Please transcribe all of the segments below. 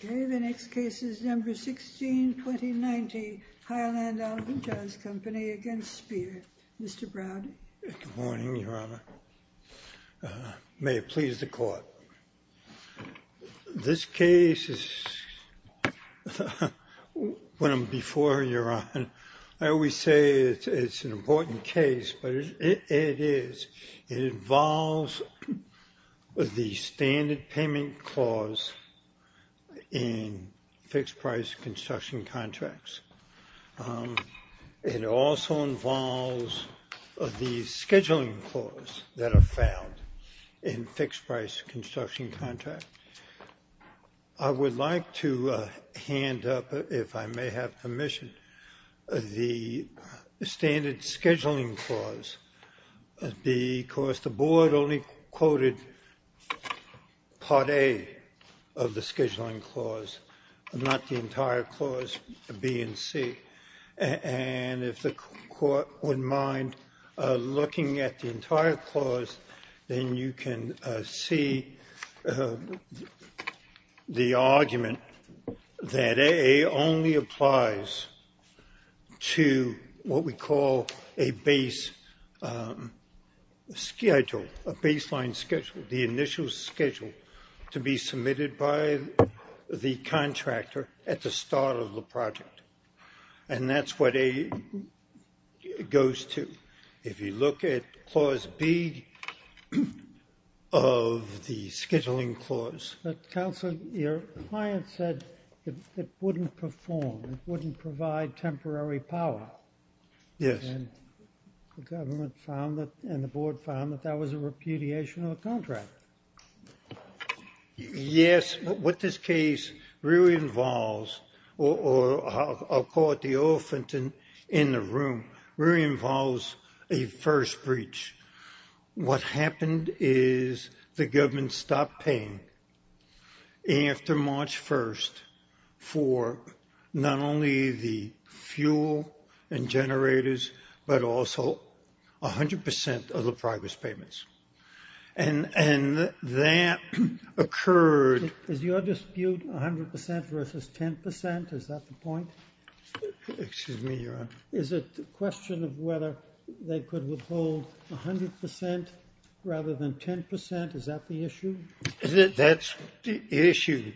Good morning, Your Honor. May it please the Court. This case is one before your honor. I always say it's an important case, but it is. It involves the standard payment clause in fixed price construction contracts. It also involves the scheduling clause that are found in fixed price construction contracts. I would like to hand up, if I may have permission, the standard scheduling clause because the Board only quoted Part A of the scheduling clause, not the entire clause B and C. And if the Court wouldn't mind looking at the entire clause, then you can see the argument that A only applies to what we call a base schedule, a baseline schedule, the initial schedule to be submitted by the contractor at the start of the project. And that's what A goes to. If you look at clause B of the scheduling clause. But, Counselor, your client said it wouldn't perform, it wouldn't provide temporary power. Yes. And the Government found that, and the Board found that that was a repudiation of the contract. Yes. What this case really involves, or I'll call it the elephant in the room, really involves a first breach. What happened is the Government stopped paying after March 1st for not only the fuel and generators, but also 100% of the progress payments. And that occurred... Is your dispute 100% versus 10%? Is that the point? Excuse me, Your Honor. Is it a question of whether they could withhold 100% rather than 10%? Is that the issue? That's the issue.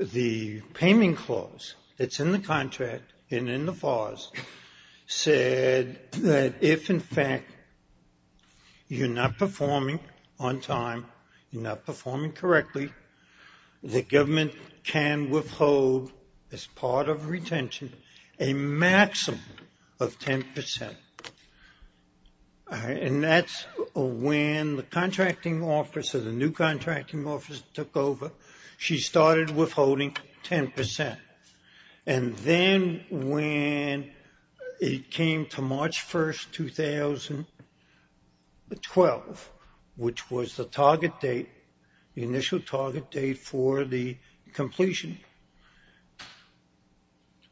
The payment clause that's in the contract and in the FARS said that if, in fact, you're not performing on time, you're not performing correctly, the Government can withhold as part of retention a maximum of 10%. And that's when the Contracting Officer, the new Contracting Officer took over. She started withholding 10%. And then when it came to March 1st, 2012, which was the target date, the initial target date for the completion,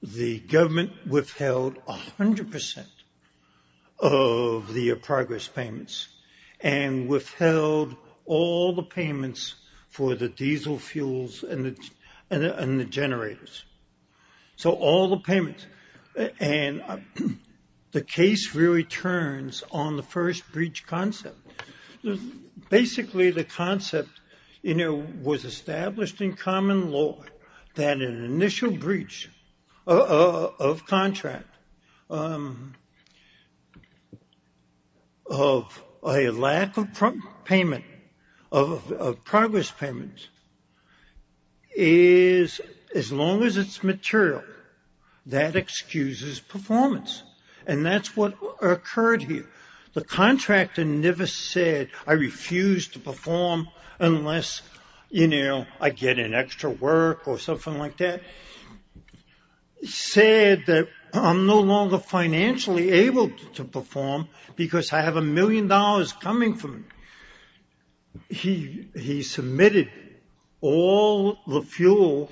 the Government withheld 100% of the progress payments and withheld all the payments for the diesel fuels and the generators. So all the payments. And the case really turns on the first breach concept. Basically, the concept was established in common law that an initial breach of contract of a lack of progress payments is, as long as it's material, that excuses performance. And that's what occurred here. The contractor never said, I refuse to perform unless, you know, I get an extra work or something like that. He said that I'm no longer financially able to perform because I have a million dollars coming from me. He submitted all the fuels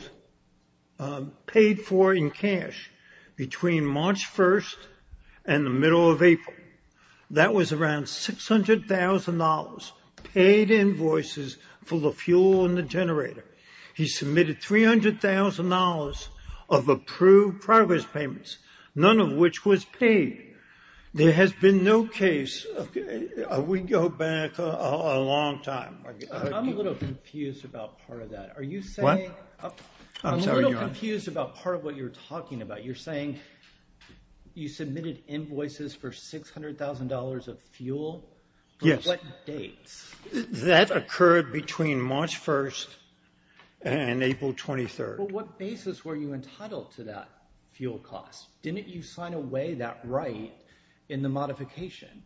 paid for in cash between March 1st and the middle of April. That was around $600,000 paid invoices for the fuel and the generator. He submitted $300,000 of approved progress payments, none of which was paid. There has been no case. We go back a long time. I'm a little confused about part of that. Are you saying... What? I'm sorry, Your Honor. I'm a little confused about part of what you're talking about. You're saying you submitted invoices for $600,000 of fuel? Yes. For what dates? That occurred between March 1st and April 23rd. Well, what basis were you entitled to that fuel cost? Didn't you sign away that right in the modification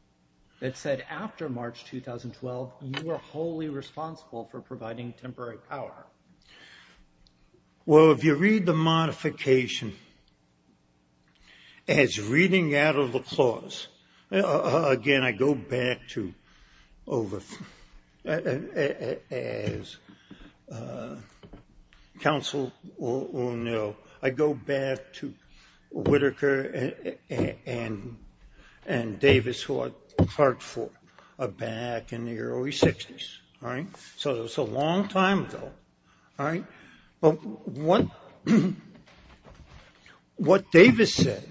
that said after March 2012, you are wholly responsible for providing temporary power? Well, if you read the modification as reading out of the clause, again, I go back to over... Counsel will know. I go back to Whittaker and Davis who I clerked for back in the early 60s. All right? So it's a long time ago. All right? What Davis said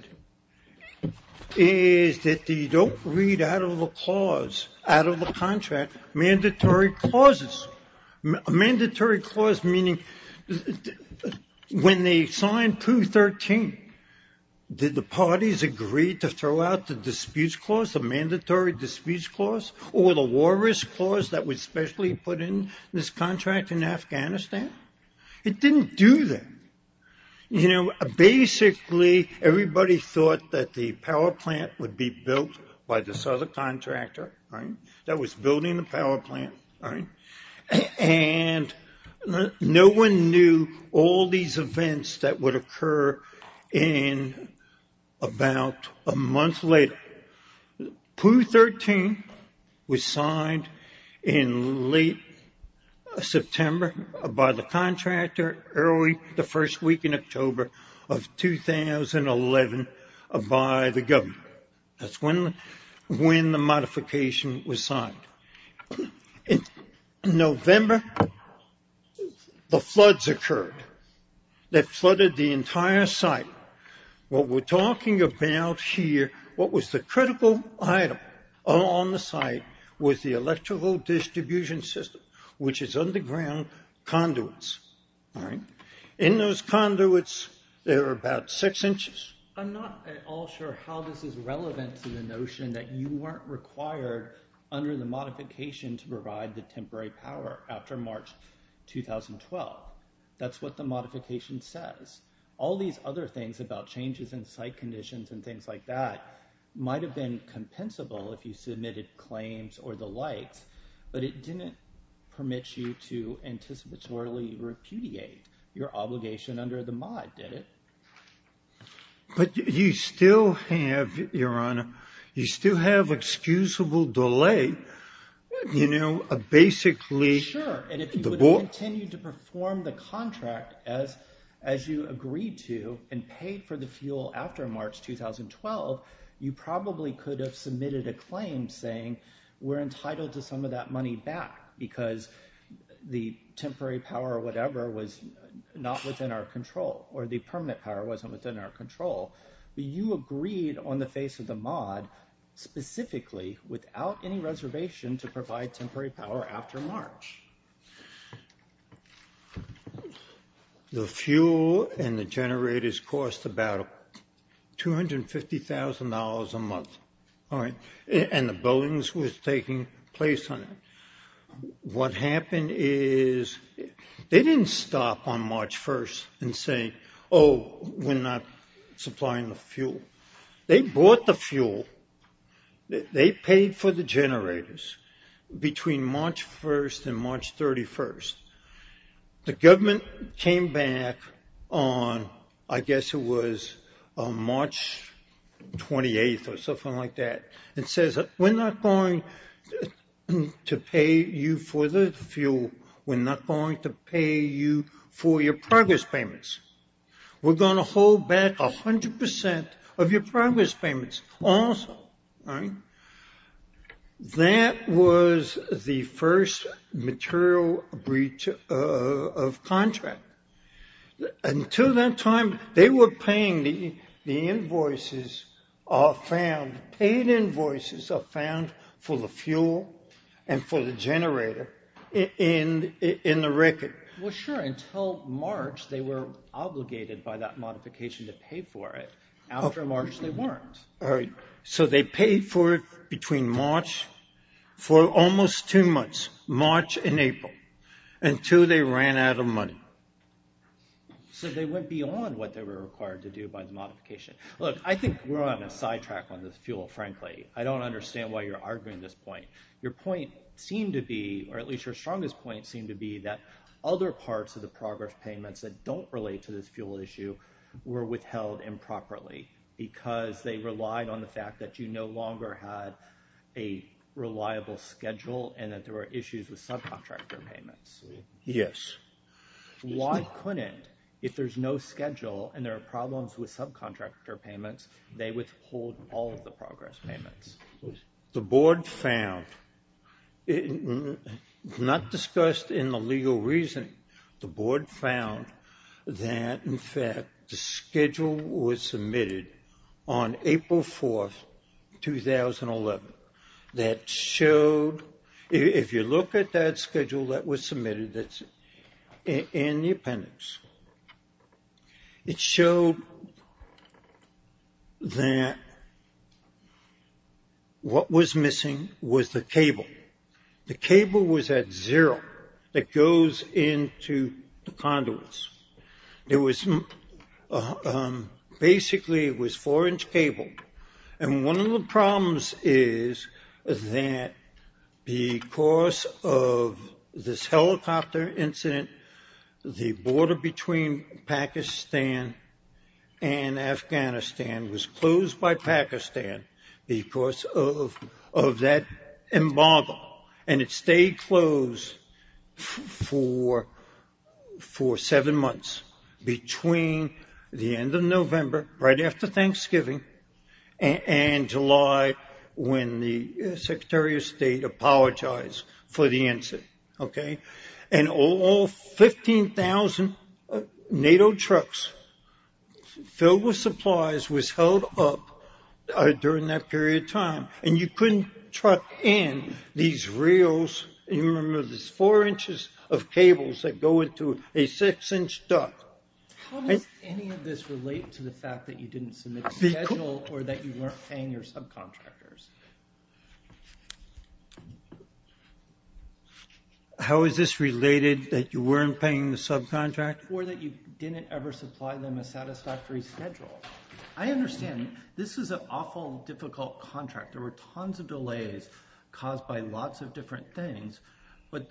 is that you don't read out of the clause, out of the contract, mandatory clauses. Mandatory clause meaning when they signed 213, did the parties agree to throw out the disputes clause, the mandatory disputes clause, or the war risk clause that was specially put in this contract in Afghanistan? It didn't do that. You know, basically, everybody thought that the power plant would be built by this other contractor, right, that was building the power plant, right? And no one knew all these events that would occur in about a month later. Pooh 13 was signed in late September by the contractor early the first week in October of 2011 by the government. That's when the modification was signed. In November, the floods occurred. They flooded the entire site. What we're talking about here, what was the critical item on the site was the electrical distribution system, which is underground conduits, all right? In those conduits, there are about six inches. I'm not at all sure how this is relevant to the notion that you weren't required under the modification to provide the temporary power after March 2012. That's what the modification says. All these other things about changes in site conditions and things like that might have been compensable if you submitted claims or the likes, but it didn't permit you to anticipatorily repudiate your obligation under the mod, did it? But you still have, Your Honor, you still have excusable delay, you know, basically. Sure, and if you would have continued to perform the contract as you agreed to and paid for the fuel after March 2012, you probably could have submitted a claim saying we're entitled to some of that money back because the temporary power or whatever was not within our control but you agreed on the face of the mod specifically without any reservation to provide temporary power after March. The fuel and the generators cost about $250,000 a month, all right? And the buildings was taking place on it. What happened is they didn't stop on March 1st and say, oh, we're not supplying the fuel. They bought the fuel. They paid for the generators between March 1st and March 31st. The government came back on, I guess it was March 28th or something like that, and says we're not going to pay you for the fuel. We're not going to pay you for your progress payments. We're going to hold back 100% of your progress payments also, all right? That was the first material breach of contract. Until that time, they were paying the invoices are found, paid invoices are found for the fuel and for the generator in the record. Well, sure. Until March, they were obligated by that modification to pay for it. After March, they weren't. All right. So they paid for it between March for almost two months, March and April, until they ran out of money. So they went beyond what they were required to do by the modification. Look, I think we're on a sidetrack on this fuel, frankly. I don't understand why you're arguing this point. Your point seemed to be, or at least your strongest point seemed to be, that other parts of the progress payments that don't relate to this fuel issue were withheld improperly, because they relied on the fact that you no longer had a reliable schedule and that there were issues with subcontractor payments. Yes. Why couldn't, if there's no schedule and there are problems with subcontractor payments, they withhold all of the progress payments? The board found, not discussed in the legal reasoning, the board found that, in fact, the schedule was submitted on April 4th, 2011, that showed, if you look at that schedule that was submitted, and the appendix, it showed that what was missing was the cable. The cable was at zero. It goes into the conduits. It was, basically, it was four-inch cable. One of the problems is that, because of this helicopter incident, the border between Pakistan and Afghanistan was closed by Pakistan because of that embargo, and it stayed closed for seven months, between the end of November, right after Thanksgiving, and July, when the Secretary of State apologized for the incident. And all 15,000 NATO trucks filled with supplies was held up during that period of time, and you couldn't truck in these reels. You remember, there's four inches of cables that go into a six-inch duct. How does any of this relate to the fact that you didn't submit the schedule or that you weren't paying your subcontractors? How is this related, that you weren't paying the subcontractors? Or that you didn't ever supply them a satisfactory schedule? I understand. This is an awful difficult contract. There were tons of delays caused by lots of different things, but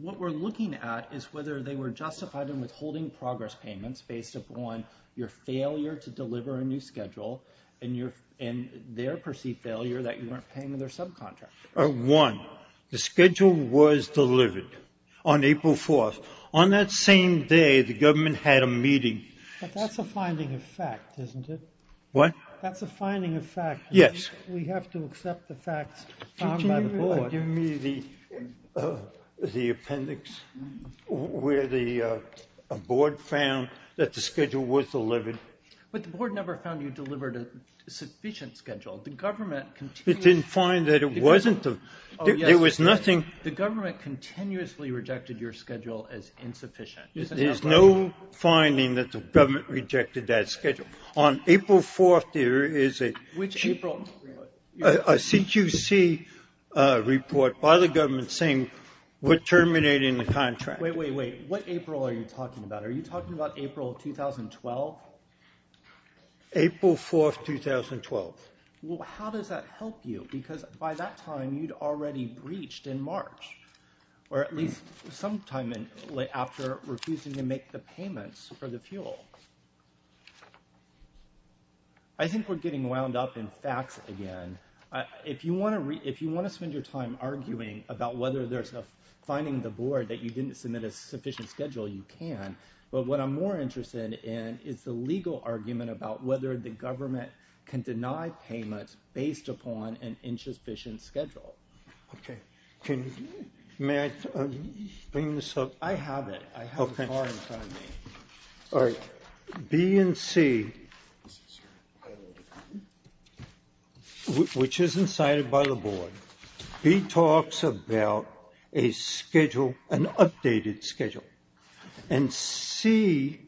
what we're looking at is whether they were justified in withholding progress payments based upon your failure to deliver a new schedule and their perceived failure that you weren't paying their subcontractors. One, the schedule was delivered on April 4th. On that same day, the government had a meeting. But that's a finding of fact, isn't it? What? That's a finding of fact. Yes. We have to accept the facts found by the board. Could you give me the appendix where the board found that the schedule was delivered? But the board never found you delivered a sufficient schedule. The government continued. It didn't find that it wasn't. There was nothing. The government continuously rejected your schedule as insufficient. There's no finding that the government rejected that schedule. On April 4th, there is a CQC report by the government saying we're terminating the contract. Wait, wait, wait. What April are you talking about? Are you talking about April 2012? April 4th, 2012. Well, how does that help you? Because by that time, you'd already breached in March or at least some time after refusing to make the payments for the fuel. I think we're getting wound up in facts again. If you want to spend your time arguing about whether there's a finding in the board that you didn't submit a sufficient schedule, you can. But what I'm more interested in is the legal argument about whether the government can deny payments based upon an insufficient schedule. Okay. May I bring this up? I have it. I have a car in front of me. All right. B and C, which is incited by the board, B talks about an updated schedule. And C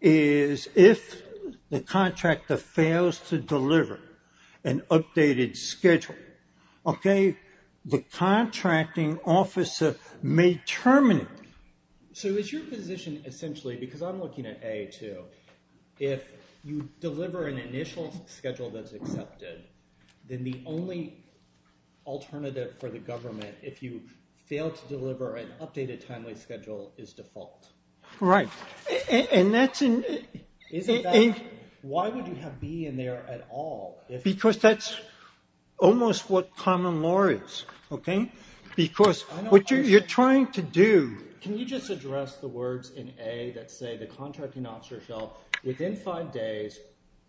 is if the contractor fails to deliver an updated schedule. Okay. The contracting officer may terminate. So is your position essentially, because I'm looking at A too, if you deliver an initial schedule that's accepted, then the only alternative for the government, if you fail to deliver an updated timely schedule, is default? Right. And that's in... Why would you have B in there at all? Because that's almost what common law is. Okay? Because what you're trying to do... Can you just address the words in A that say the contracting officer fell within five days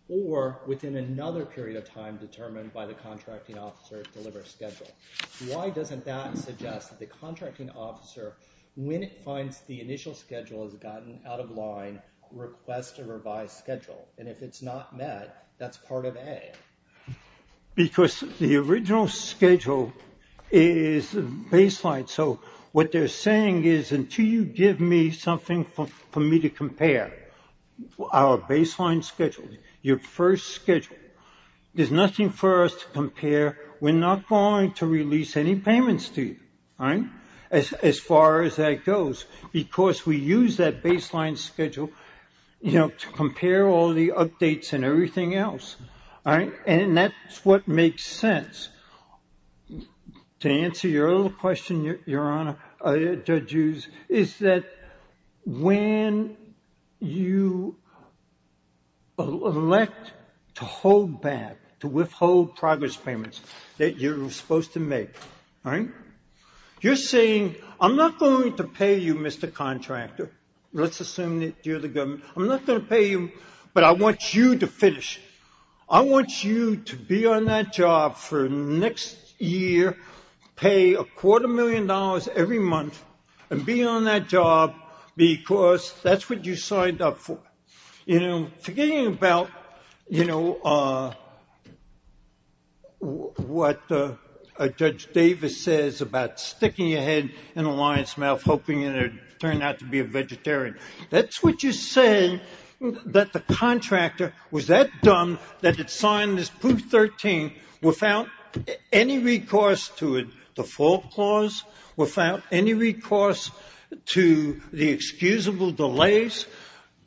or within another period of time determined by the contracting officer to deliver a schedule? Why doesn't that suggest that the contracting officer, when it finds the initial schedule has gotten out of line, requests a revised schedule? And if it's not met, that's part of A. Because the original schedule is baseline. So what they're saying is, until you give me something for me to compare, our baseline schedule, your first schedule, there's nothing for us to compare. We're not going to release any payments to you, as far as that goes, because we use that baseline schedule to compare all the updates and everything else. All right? And that's what makes sense. To answer your other question, Your Honor, Judge Hughes, is that when you elect to hold back, to withhold progress payments that you're supposed to make, you're saying, I'm not going to pay you, Mr. Contractor. Let's assume that you're the government. I'm not going to pay you, but I want you to finish. I want you to be on that job for next year, pay a quarter million dollars every month, and be on that job because that's what you signed up for. Forgetting about what Judge Davis says about sticking your head in a lion's mouth, hoping it would turn out to be a vegetarian. That's what you're saying, that the contractor was that dumb that it signed this Proof 13 without any recourse to a default clause, without any recourse to the excusable delays,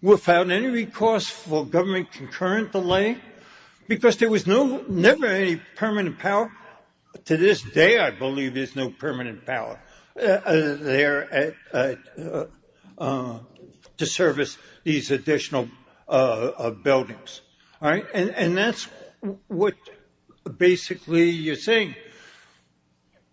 without any recourse for government concurrent delay, because there was never any permanent power. To this day, I believe, there's no permanent power. There to service these additional buildings. And that's what basically you're saying.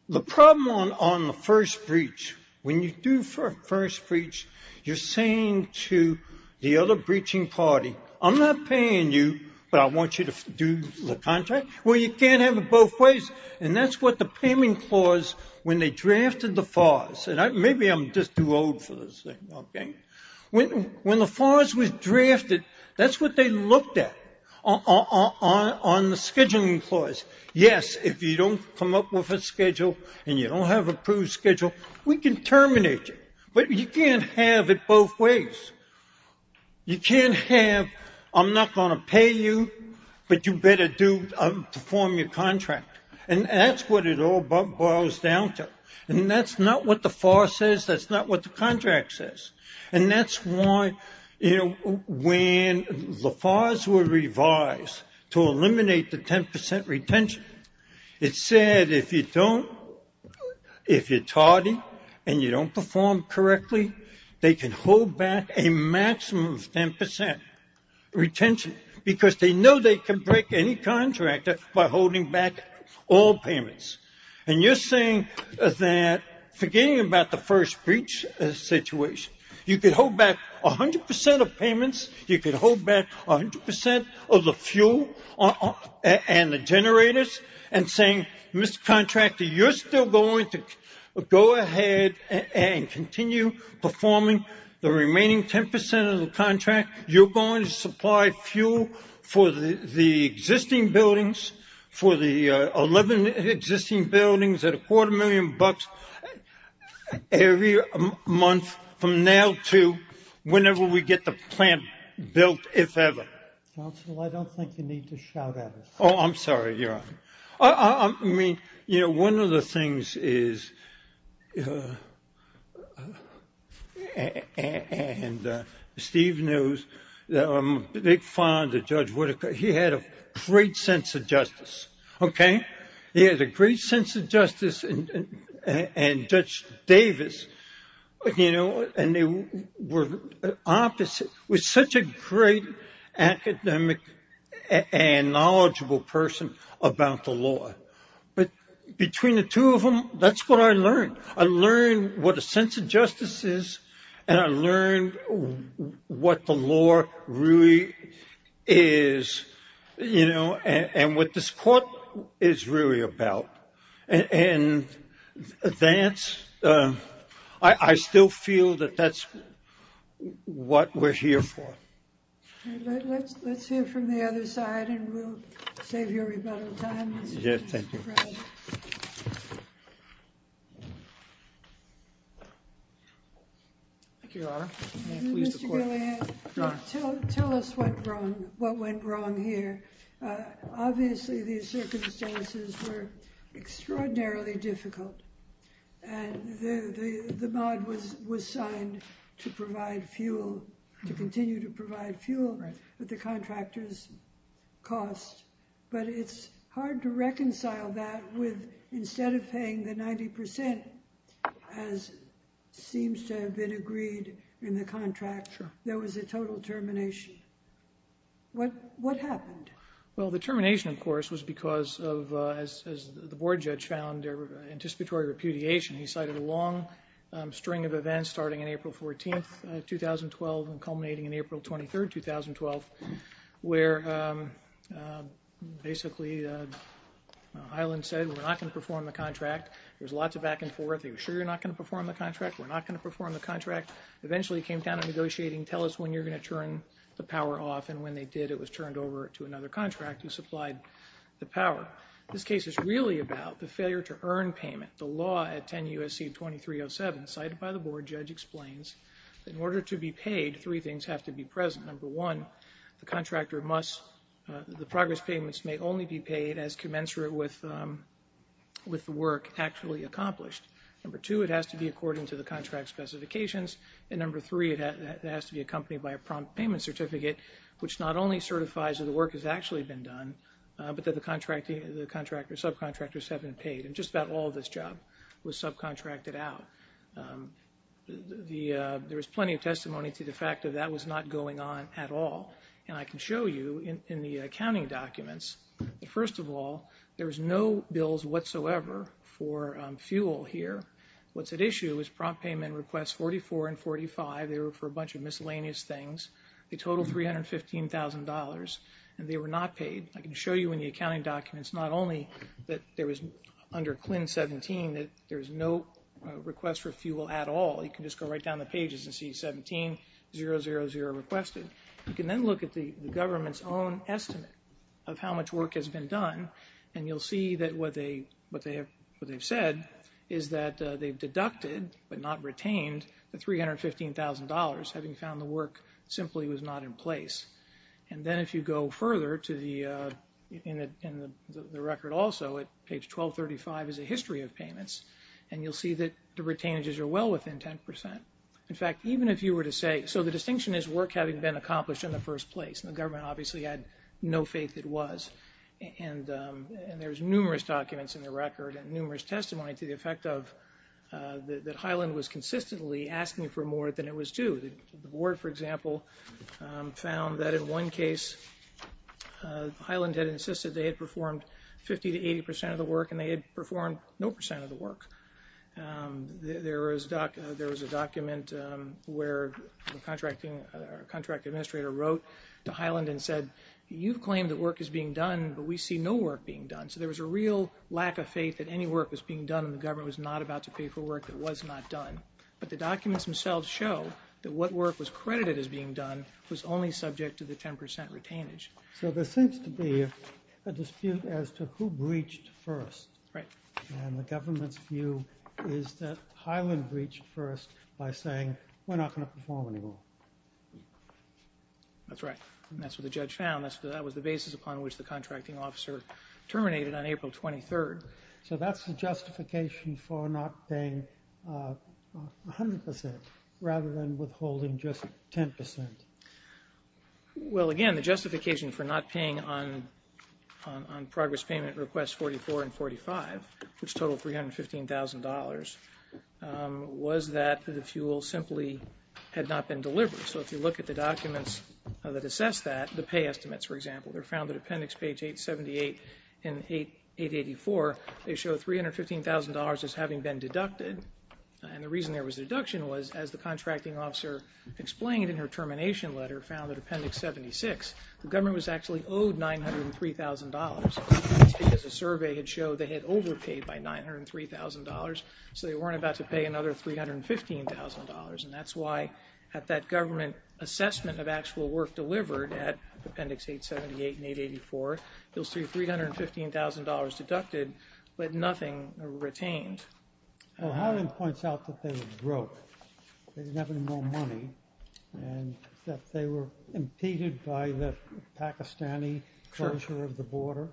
The problem on the first breach, when you do first breach, you're saying to the other breaching party, I'm not paying you, but I want you to do the contract. Well, you can't have it both ways. And that's what the payment clause, when they drafted the FARs, and maybe I'm just too old for this thing. When the FARs was drafted, that's what they looked at, on the scheduling clause. Yes, if you don't come up with a schedule, and you don't have approved schedule, we can terminate you. But you can't have it both ways. You can't have, I'm not going to pay you, but you better perform your contract. And that's what it all boils down to. And that's not what the FAR says. That's not what the contract says. And that's why, you know, when the FARs were revised to eliminate the 10% retention, it said if you don't, if you're tardy, and you don't perform correctly, they can hold back a maximum of 10% retention, because they know they can break any contractor by holding back all payments. And you're saying that, forgetting about the first breach situation, you can hold back 100% of payments, you can hold back 100% of the fuel and the generators, and saying, Mr. Contractor, you're still going to go ahead and continue performing the remaining 10% of the contract. You're going to supply fuel for the existing buildings, for the 11 existing buildings at a quarter million bucks every month from now to whenever we get the plant built, if ever. Council, I don't think you need to shout at us. Oh, I'm sorry, Your Honor. I mean, you know, one of the things is, and Steve knows, I'm a big fan of Judge Whitaker, he had a great sense of justice, okay? He had a great sense of justice, and Judge Davis, you know, and they were opposite, was such a great academic and knowledgeable person about the law. But between the two of them, that's what I learned. I learned what a sense of justice is, and I learned what the law really is, you know, and what this court is really about. And Vance, I still feel that that's what we're here for. Let's hear from the other side, and we'll save you a rebuttal time. Yeah, thank you. Thank you, Your Honor. Mr. Gilead, tell us what went wrong here. Obviously, these circumstances were extraordinarily difficult, and the mod was signed to provide fuel, to continue to provide fuel at the contractor's cost, but it's hard to reconcile that with, instead of paying the 90%, as seems to have been agreed in the contract, there was a total termination. What happened? Well, the termination, of course, was because of, as the board judge found, anticipatory repudiation. He cited a long string of events starting on April 14, 2012, and culminating on April 23, 2012, where basically Highland said, we're not going to perform the contract. There was lots of back and forth. He was sure you're not going to perform the contract. We're not going to perform the contract. Eventually, he came down to negotiating, tell us when you're going to turn the power off, and when they did, it was turned over to another contractor who supplied the power. This case is really about the failure to earn payment. The law at 10 U.S.C. 2307 cited by the board judge explains that in order to be paid, three things have to be present. Number one, the contractor must, the progress payments may only be paid as commensurate with the work actually accomplished. Number two, it has to be according to the contract specifications. And number three, it has to be accompanied by a prompt payment certificate, which not only certifies that the work has actually been done, but that the subcontractors have been paid. And just about all of this job was subcontracted out. There was plenty of testimony to the fact that that was not going on at all. And I can show you in the accounting documents, first of all, there was no bills whatsoever for fuel here. What's at issue is prompt payment requests 44 and 45. They were for a bunch of miscellaneous things. They totaled $315,000, and they were not paid. I can show you in the accounting documents not only that there was under CLIN 17 that there was no request for fuel at all. You can just go right down the pages and see 17, 000 requested. You can then look at the government's own estimate of how much work has been done, and you'll see that what they've said is that they've deducted, but not retained, the $315,000, having found the work simply was not in place. And then if you go further in the record also, at page 1235 is a history of payments, and you'll see that the retainages are well within 10%. In fact, even if you were to say, so the distinction is work having been accomplished in the first place, and the government obviously had no faith it was. And there's numerous documents in the record and numerous testimony to the effect of that Highland was consistently asking for more than it was due. The board, for example, found that in one case Highland had insisted they had performed 50 to 80% of the work, and they had performed no percent of the work. There was a document where the contract administrator wrote to Highland and said, you've claimed that work is being done, but we see no work being done. So there was a real lack of faith that any work was being done, and the government was not about to pay for work that was not done. But the documents themselves show that what work was credited as being done was only subject to the 10% retainage. So there seems to be a dispute as to who breached first, and the government's view is that Highland breached first by saying we're not going to perform anymore. That's right. And that's what the judge found. That was the basis upon which the contracting officer terminated on April 23rd. So that's the justification for not paying 100% rather than withholding just 10%. Well, again, the justification for not paying on progress payment request 44 and 45, which totaled $315,000, was that the fuel simply had not been delivered. So if you look at the documents that assess that, the pay estimates, for example, they're found at appendix page 878 and 884. They show $315,000 as having been deducted, and the reason there was a deduction was, as the contracting officer explained in her termination letter, found in appendix 76, the government was actually owed $903,000. That's because the survey had showed they had overpaid by $903,000, so they weren't about to pay another $315,000, and that's why at that government assessment of actual work delivered at appendix 878 and 884, you'll see $315,000 deducted, but nothing retained. Well, Highland points out that they were broke. They didn't have any more money, and that they were impeded by the Pakistani closure of the border.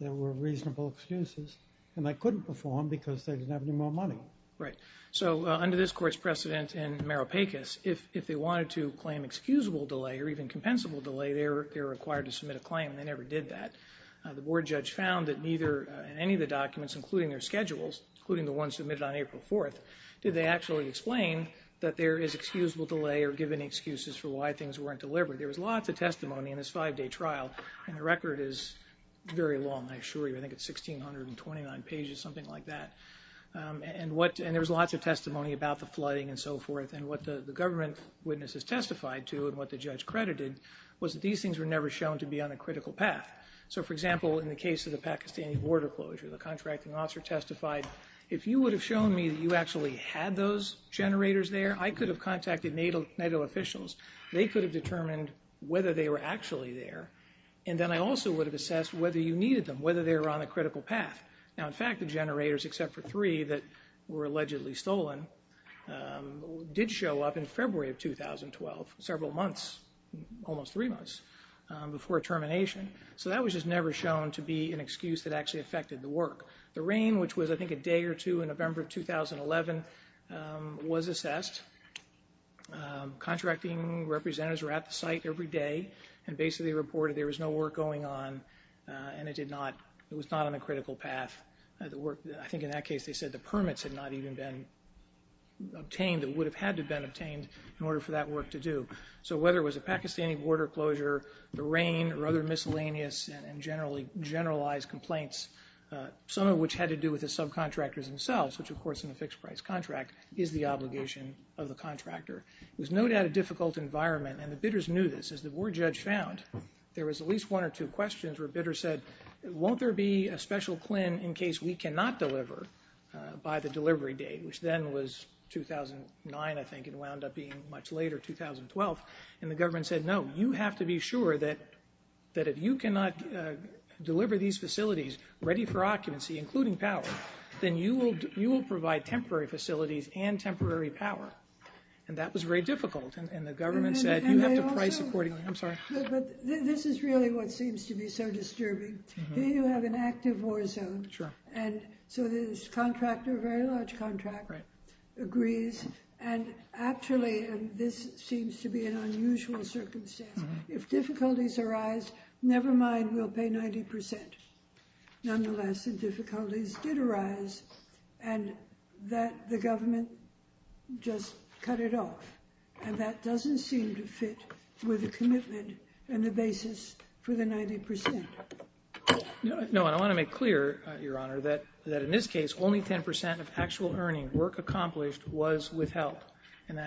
There were reasonable excuses, and they couldn't perform because they didn't have any more money. Right. So under this court's precedent in Meropecus, if they wanted to claim excusable delay or even compensable delay, they were required to submit a claim, and they never did that. The board judge found that neither in any of the documents, including their schedules, including the one submitted on April 4th, did they actually explain that there is excusable delay or give any excuses for why things weren't delivered. There was lots of testimony in this five-day trial, and the record is very long, I assure you. I think it's 1,629 pages, something like that. And there was lots of testimony about the flooding and so forth, and what the government witnesses testified to and what the judge credited was that these things were never shown to be on a critical path. So, for example, in the case of the Pakistani border closure, the contracting officer testified, if you would have shown me that you actually had those generators there, I could have contacted NATO officials. They could have determined whether they were actually there, and then I also would have assessed whether you needed them, whether they were on a critical path. Now, in fact, the generators, except for three that were allegedly stolen, did show up in February of 2012, several months, almost three months, before termination. So that was just never shown to be an excuse that actually affected the work. The rain, which was, I think, a day or two in November of 2011, was assessed. Contracting representatives were at the site every day and basically reported there was no work going on, and it was not on a critical path. I think in that case they said the permits had not even been obtained. It would have had to have been obtained in order for that work to do. So whether it was a Pakistani border closure, the rain, or other miscellaneous and generalized complaints, some of which had to do with the subcontractors themselves, which, of course, in a fixed-price contract, is the obligation of the contractor. It was no doubt a difficult environment, and the bidders knew this. As the board judge found, there was at least one or two questions where bidders said, won't there be a special CLIN in case we cannot deliver by the delivery date, which then was 2009, I think, and wound up being much later, 2012. And the government said, no, you have to be sure that if you cannot deliver these facilities ready for occupancy, including power, then you will provide temporary facilities and temporary power. And that was very difficult, and the government said, you have to price accordingly. I'm sorry. But this is really what seems to be so disturbing. Here you have an active war zone, and so this contractor, a very large contractor, agrees, and actually, and this seems to be an unusual circumstance, if difficulties arise, never mind, we'll pay 90%. Nonetheless, the difficulties did arise, and that the government just cut it off, and that doesn't seem to fit with the commitment and the basis for the 90%. No, and I want to make clear, Your Honor, that in this case, only 10% of actual earning work accomplished was with help, and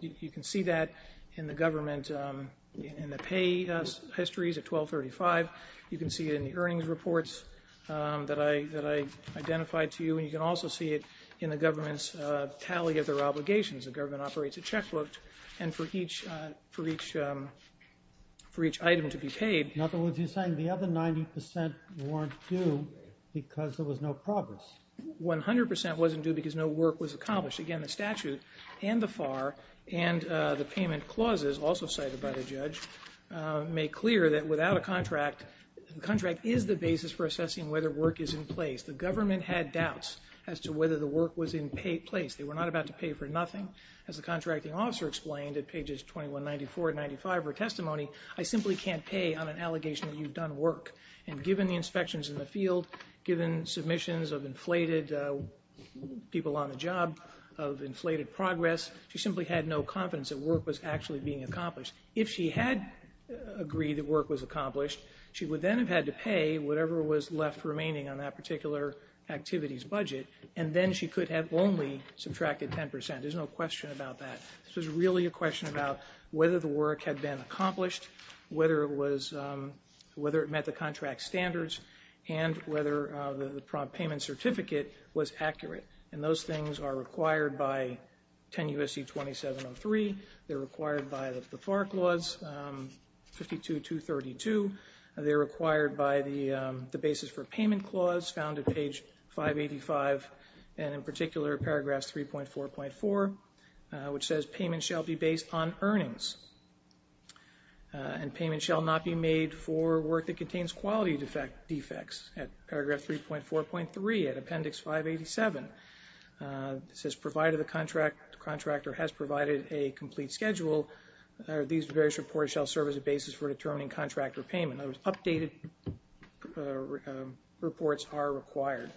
you can see that in the government, in the pay histories at 1235. You can see it in the earnings reports that I identified to you, and you can also see it in the government's tally of their obligations. The government operates a checkbook, and for each item to be paid. In other words, you're saying the other 90% weren't due because there was no progress. 100% wasn't due because no work was accomplished. Again, the statute and the FAR and the payment clauses, also cited by the judge, make clear that without a contract, the contract is the basis for assessing whether work is in place. The government had doubts as to whether the work was in place. They were not about to pay for nothing. As the contracting officer explained at pages 2194 and 295 of her testimony, I simply can't pay on an allegation that you've done work, and given the inspections in the field, given submissions of inflated people on the job, of inflated progress, she simply had no confidence that work was actually being accomplished. If she had agreed that work was accomplished, she would then have had to pay whatever was left remaining on that particular activity's budget, and then she could have only subtracted 10%. There's no question about that. This was really a question about whether the work had been accomplished, whether it met the contract's standards, and whether the payment certificate was accurate. Those things are required by 10 U.S.C. 2703. They're required by the FAR Clause 52-232. They're required by the Basis for Payment Clause found at page 585, and in particular, Paragraph 3.4.4, which says, Payment shall be based on earnings, and payment shall not be made for work that contains quality defects. At Paragraph 3.4.3, at Appendix 587, it says, Provided the contractor has provided a complete schedule, these various reports shall serve as a basis for determining contract repayment. In other words, updated reports are required.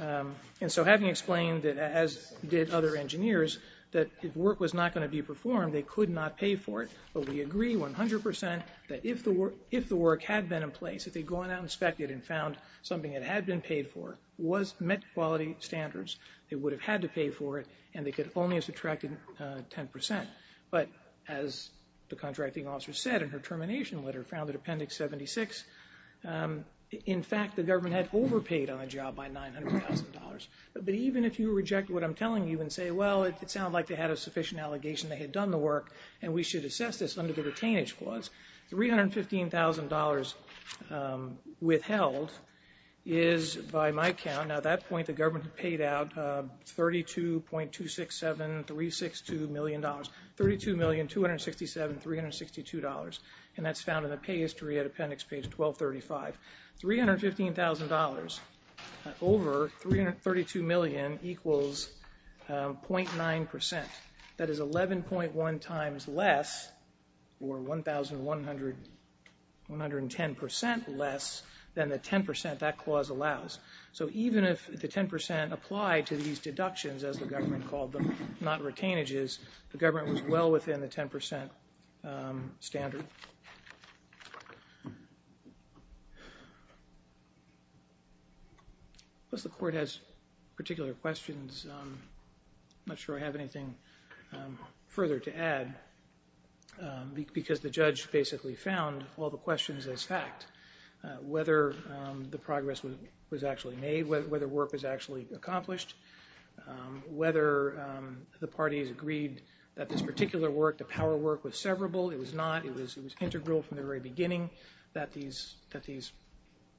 And so having explained, as did other engineers, that if work was not going to be performed, they could not pay for it, but we agree 100% that if the work had been in place, if they'd gone out and inspected and found something that had been paid for, was met quality standards, they would have had to pay for it, and they could only have subtracted 10%. But as the contracting officer said in her termination letter found at Appendix 76, in fact, the government had overpaid on the job by $900,000. But even if you reject what I'm telling you and say, well, it sounds like they had a sufficient allegation they had done the work, and we should assess this under the Retainage Clause, $315,000 withheld is, by my count, and at that point the government had paid out $32,267,362 million. $32,267,362. And that's found in the pay history at Appendix Page 1235. $315,000 over $332 million equals 0.9%. That is 11.1 times less, or 1,110% less than the 10% that clause allows. So even if the 10% applied to these deductions, as the government called them, not retainages, the government was well within the 10% standard. Unless the Court has particular questions, I'm not sure I have anything further to add, because the judge basically found all the questions as fact. Whether the progress was actually made, whether work was actually accomplished, whether the parties agreed that this particular work, the power work, was severable. It was not. It was integral from the very beginning that these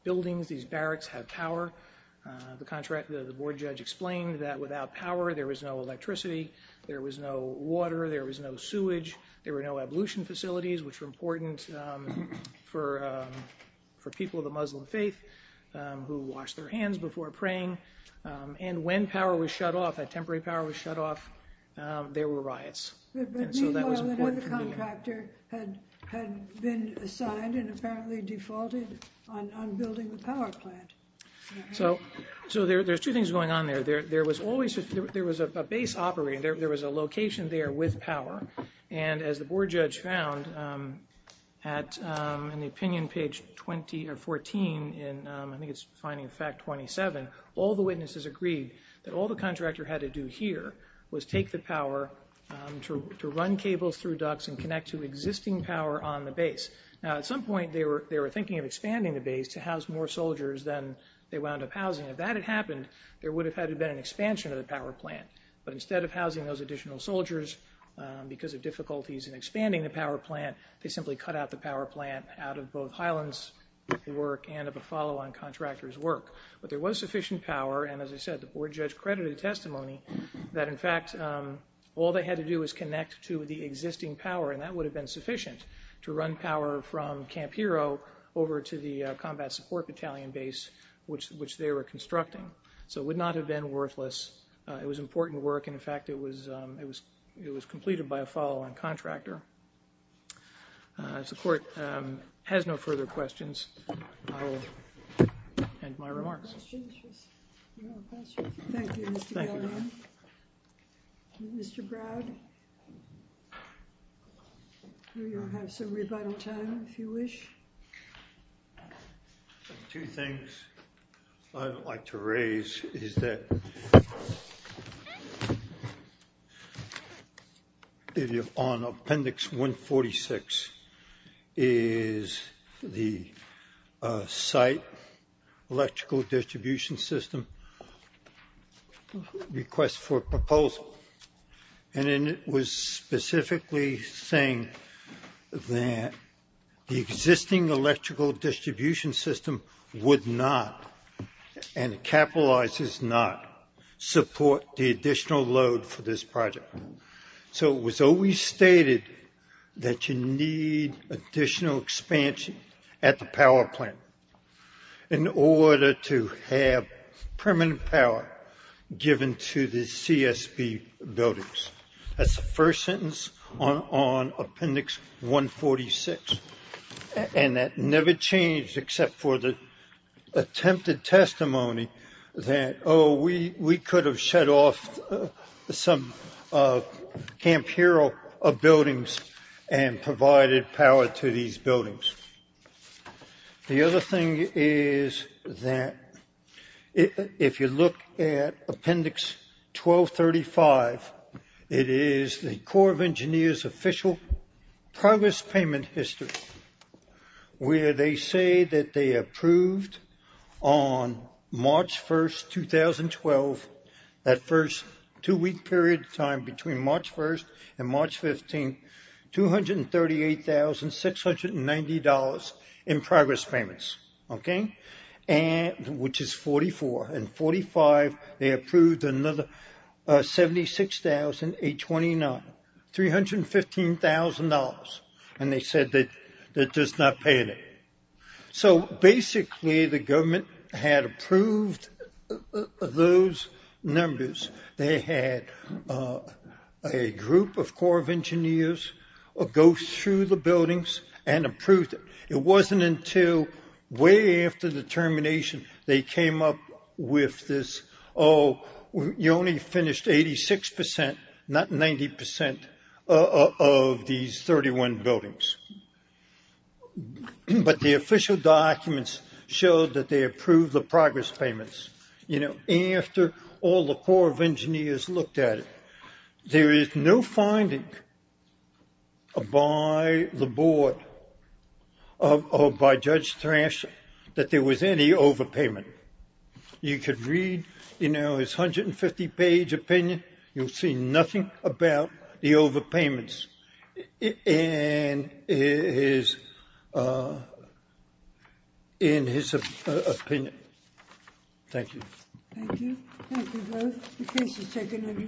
buildings, these barracks, have power. The board judge explained that without power there was no electricity, there was no water, there was no sewage, there were no ablution facilities, which were important for people of the Muslim faith, who washed their hands before praying. And when power was shut off, when temporary power was shut off, there were riots. Meanwhile, another contractor had been assigned and apparently defaulted on building the power plant. So there's two things going on there. There was a base operating, there was a location there with power, and as the board judge found in the opinion page 14, I think it's finding of fact 27, all the witnesses agreed that all the contractor had to do here was take the power to run cables through ducts and connect to existing power on the base. Now at some point they were thinking of expanding the base to house more soldiers than they wound up housing. If that had happened, there would have had to have been an expansion of the power plant. But instead of housing those additional soldiers, because of difficulties in expanding the power plant, they simply cut out the power plant out of both Highland's work and of a follow-on contractor's work. But there was sufficient power, and as I said the board judge credited the testimony, that in fact all they had to do was connect to the existing power, and that would have been sufficient to run power from Camp Hero over to the combat support battalion base, which they were constructing. So it would not have been worthless. It was important work, and, in fact, it was completed by a follow-on contractor. As the court has no further questions, I will end my remarks. Thank you, Mr. Galleron. Mr. Browd, you will have some rebuttal time if you wish. Two things I would like to raise is that on Appendix 146 is the site electrical distribution system request for proposal, and it was specifically saying that the existing electrical distribution system would not, and it capitalizes not, support the additional load for this project. So it was always stated that you need additional expansion at the power plant in order to have permanent power given to the CSB buildings. That's the first sentence on Appendix 146, and that never changed except for the attempted testimony that, oh, we could have shut off some Camp Hero buildings and provided power to these buildings. The other thing is that if you look at Appendix 1235, it is the Corps of Engineers' official progress payment history, where they say that they approved on March 1st, 2012, that first two-week period of time between March 1st and March 15th, $238,690 in progress payments, which is 44. In 45, they approved another $76,829, $315,000, and they said they're just not paying it. So basically, the government had approved those numbers. They had a group of Corps of Engineers go through the buildings and approved it. It wasn't until way after the termination they came up with this, oh, you only finished 86 percent, not 90 percent, of these 31 buildings. But the official documents showed that they approved the progress payments. You know, after all the Corps of Engineers looked at it, there is no finding by the board or by Judge Thrasher that there was any overpayment. You could read, you know, his 150-page opinion. You'll see nothing about the overpayments. And in his opinion. Thank you. Thank you. Thank you both. The case is taken under submission.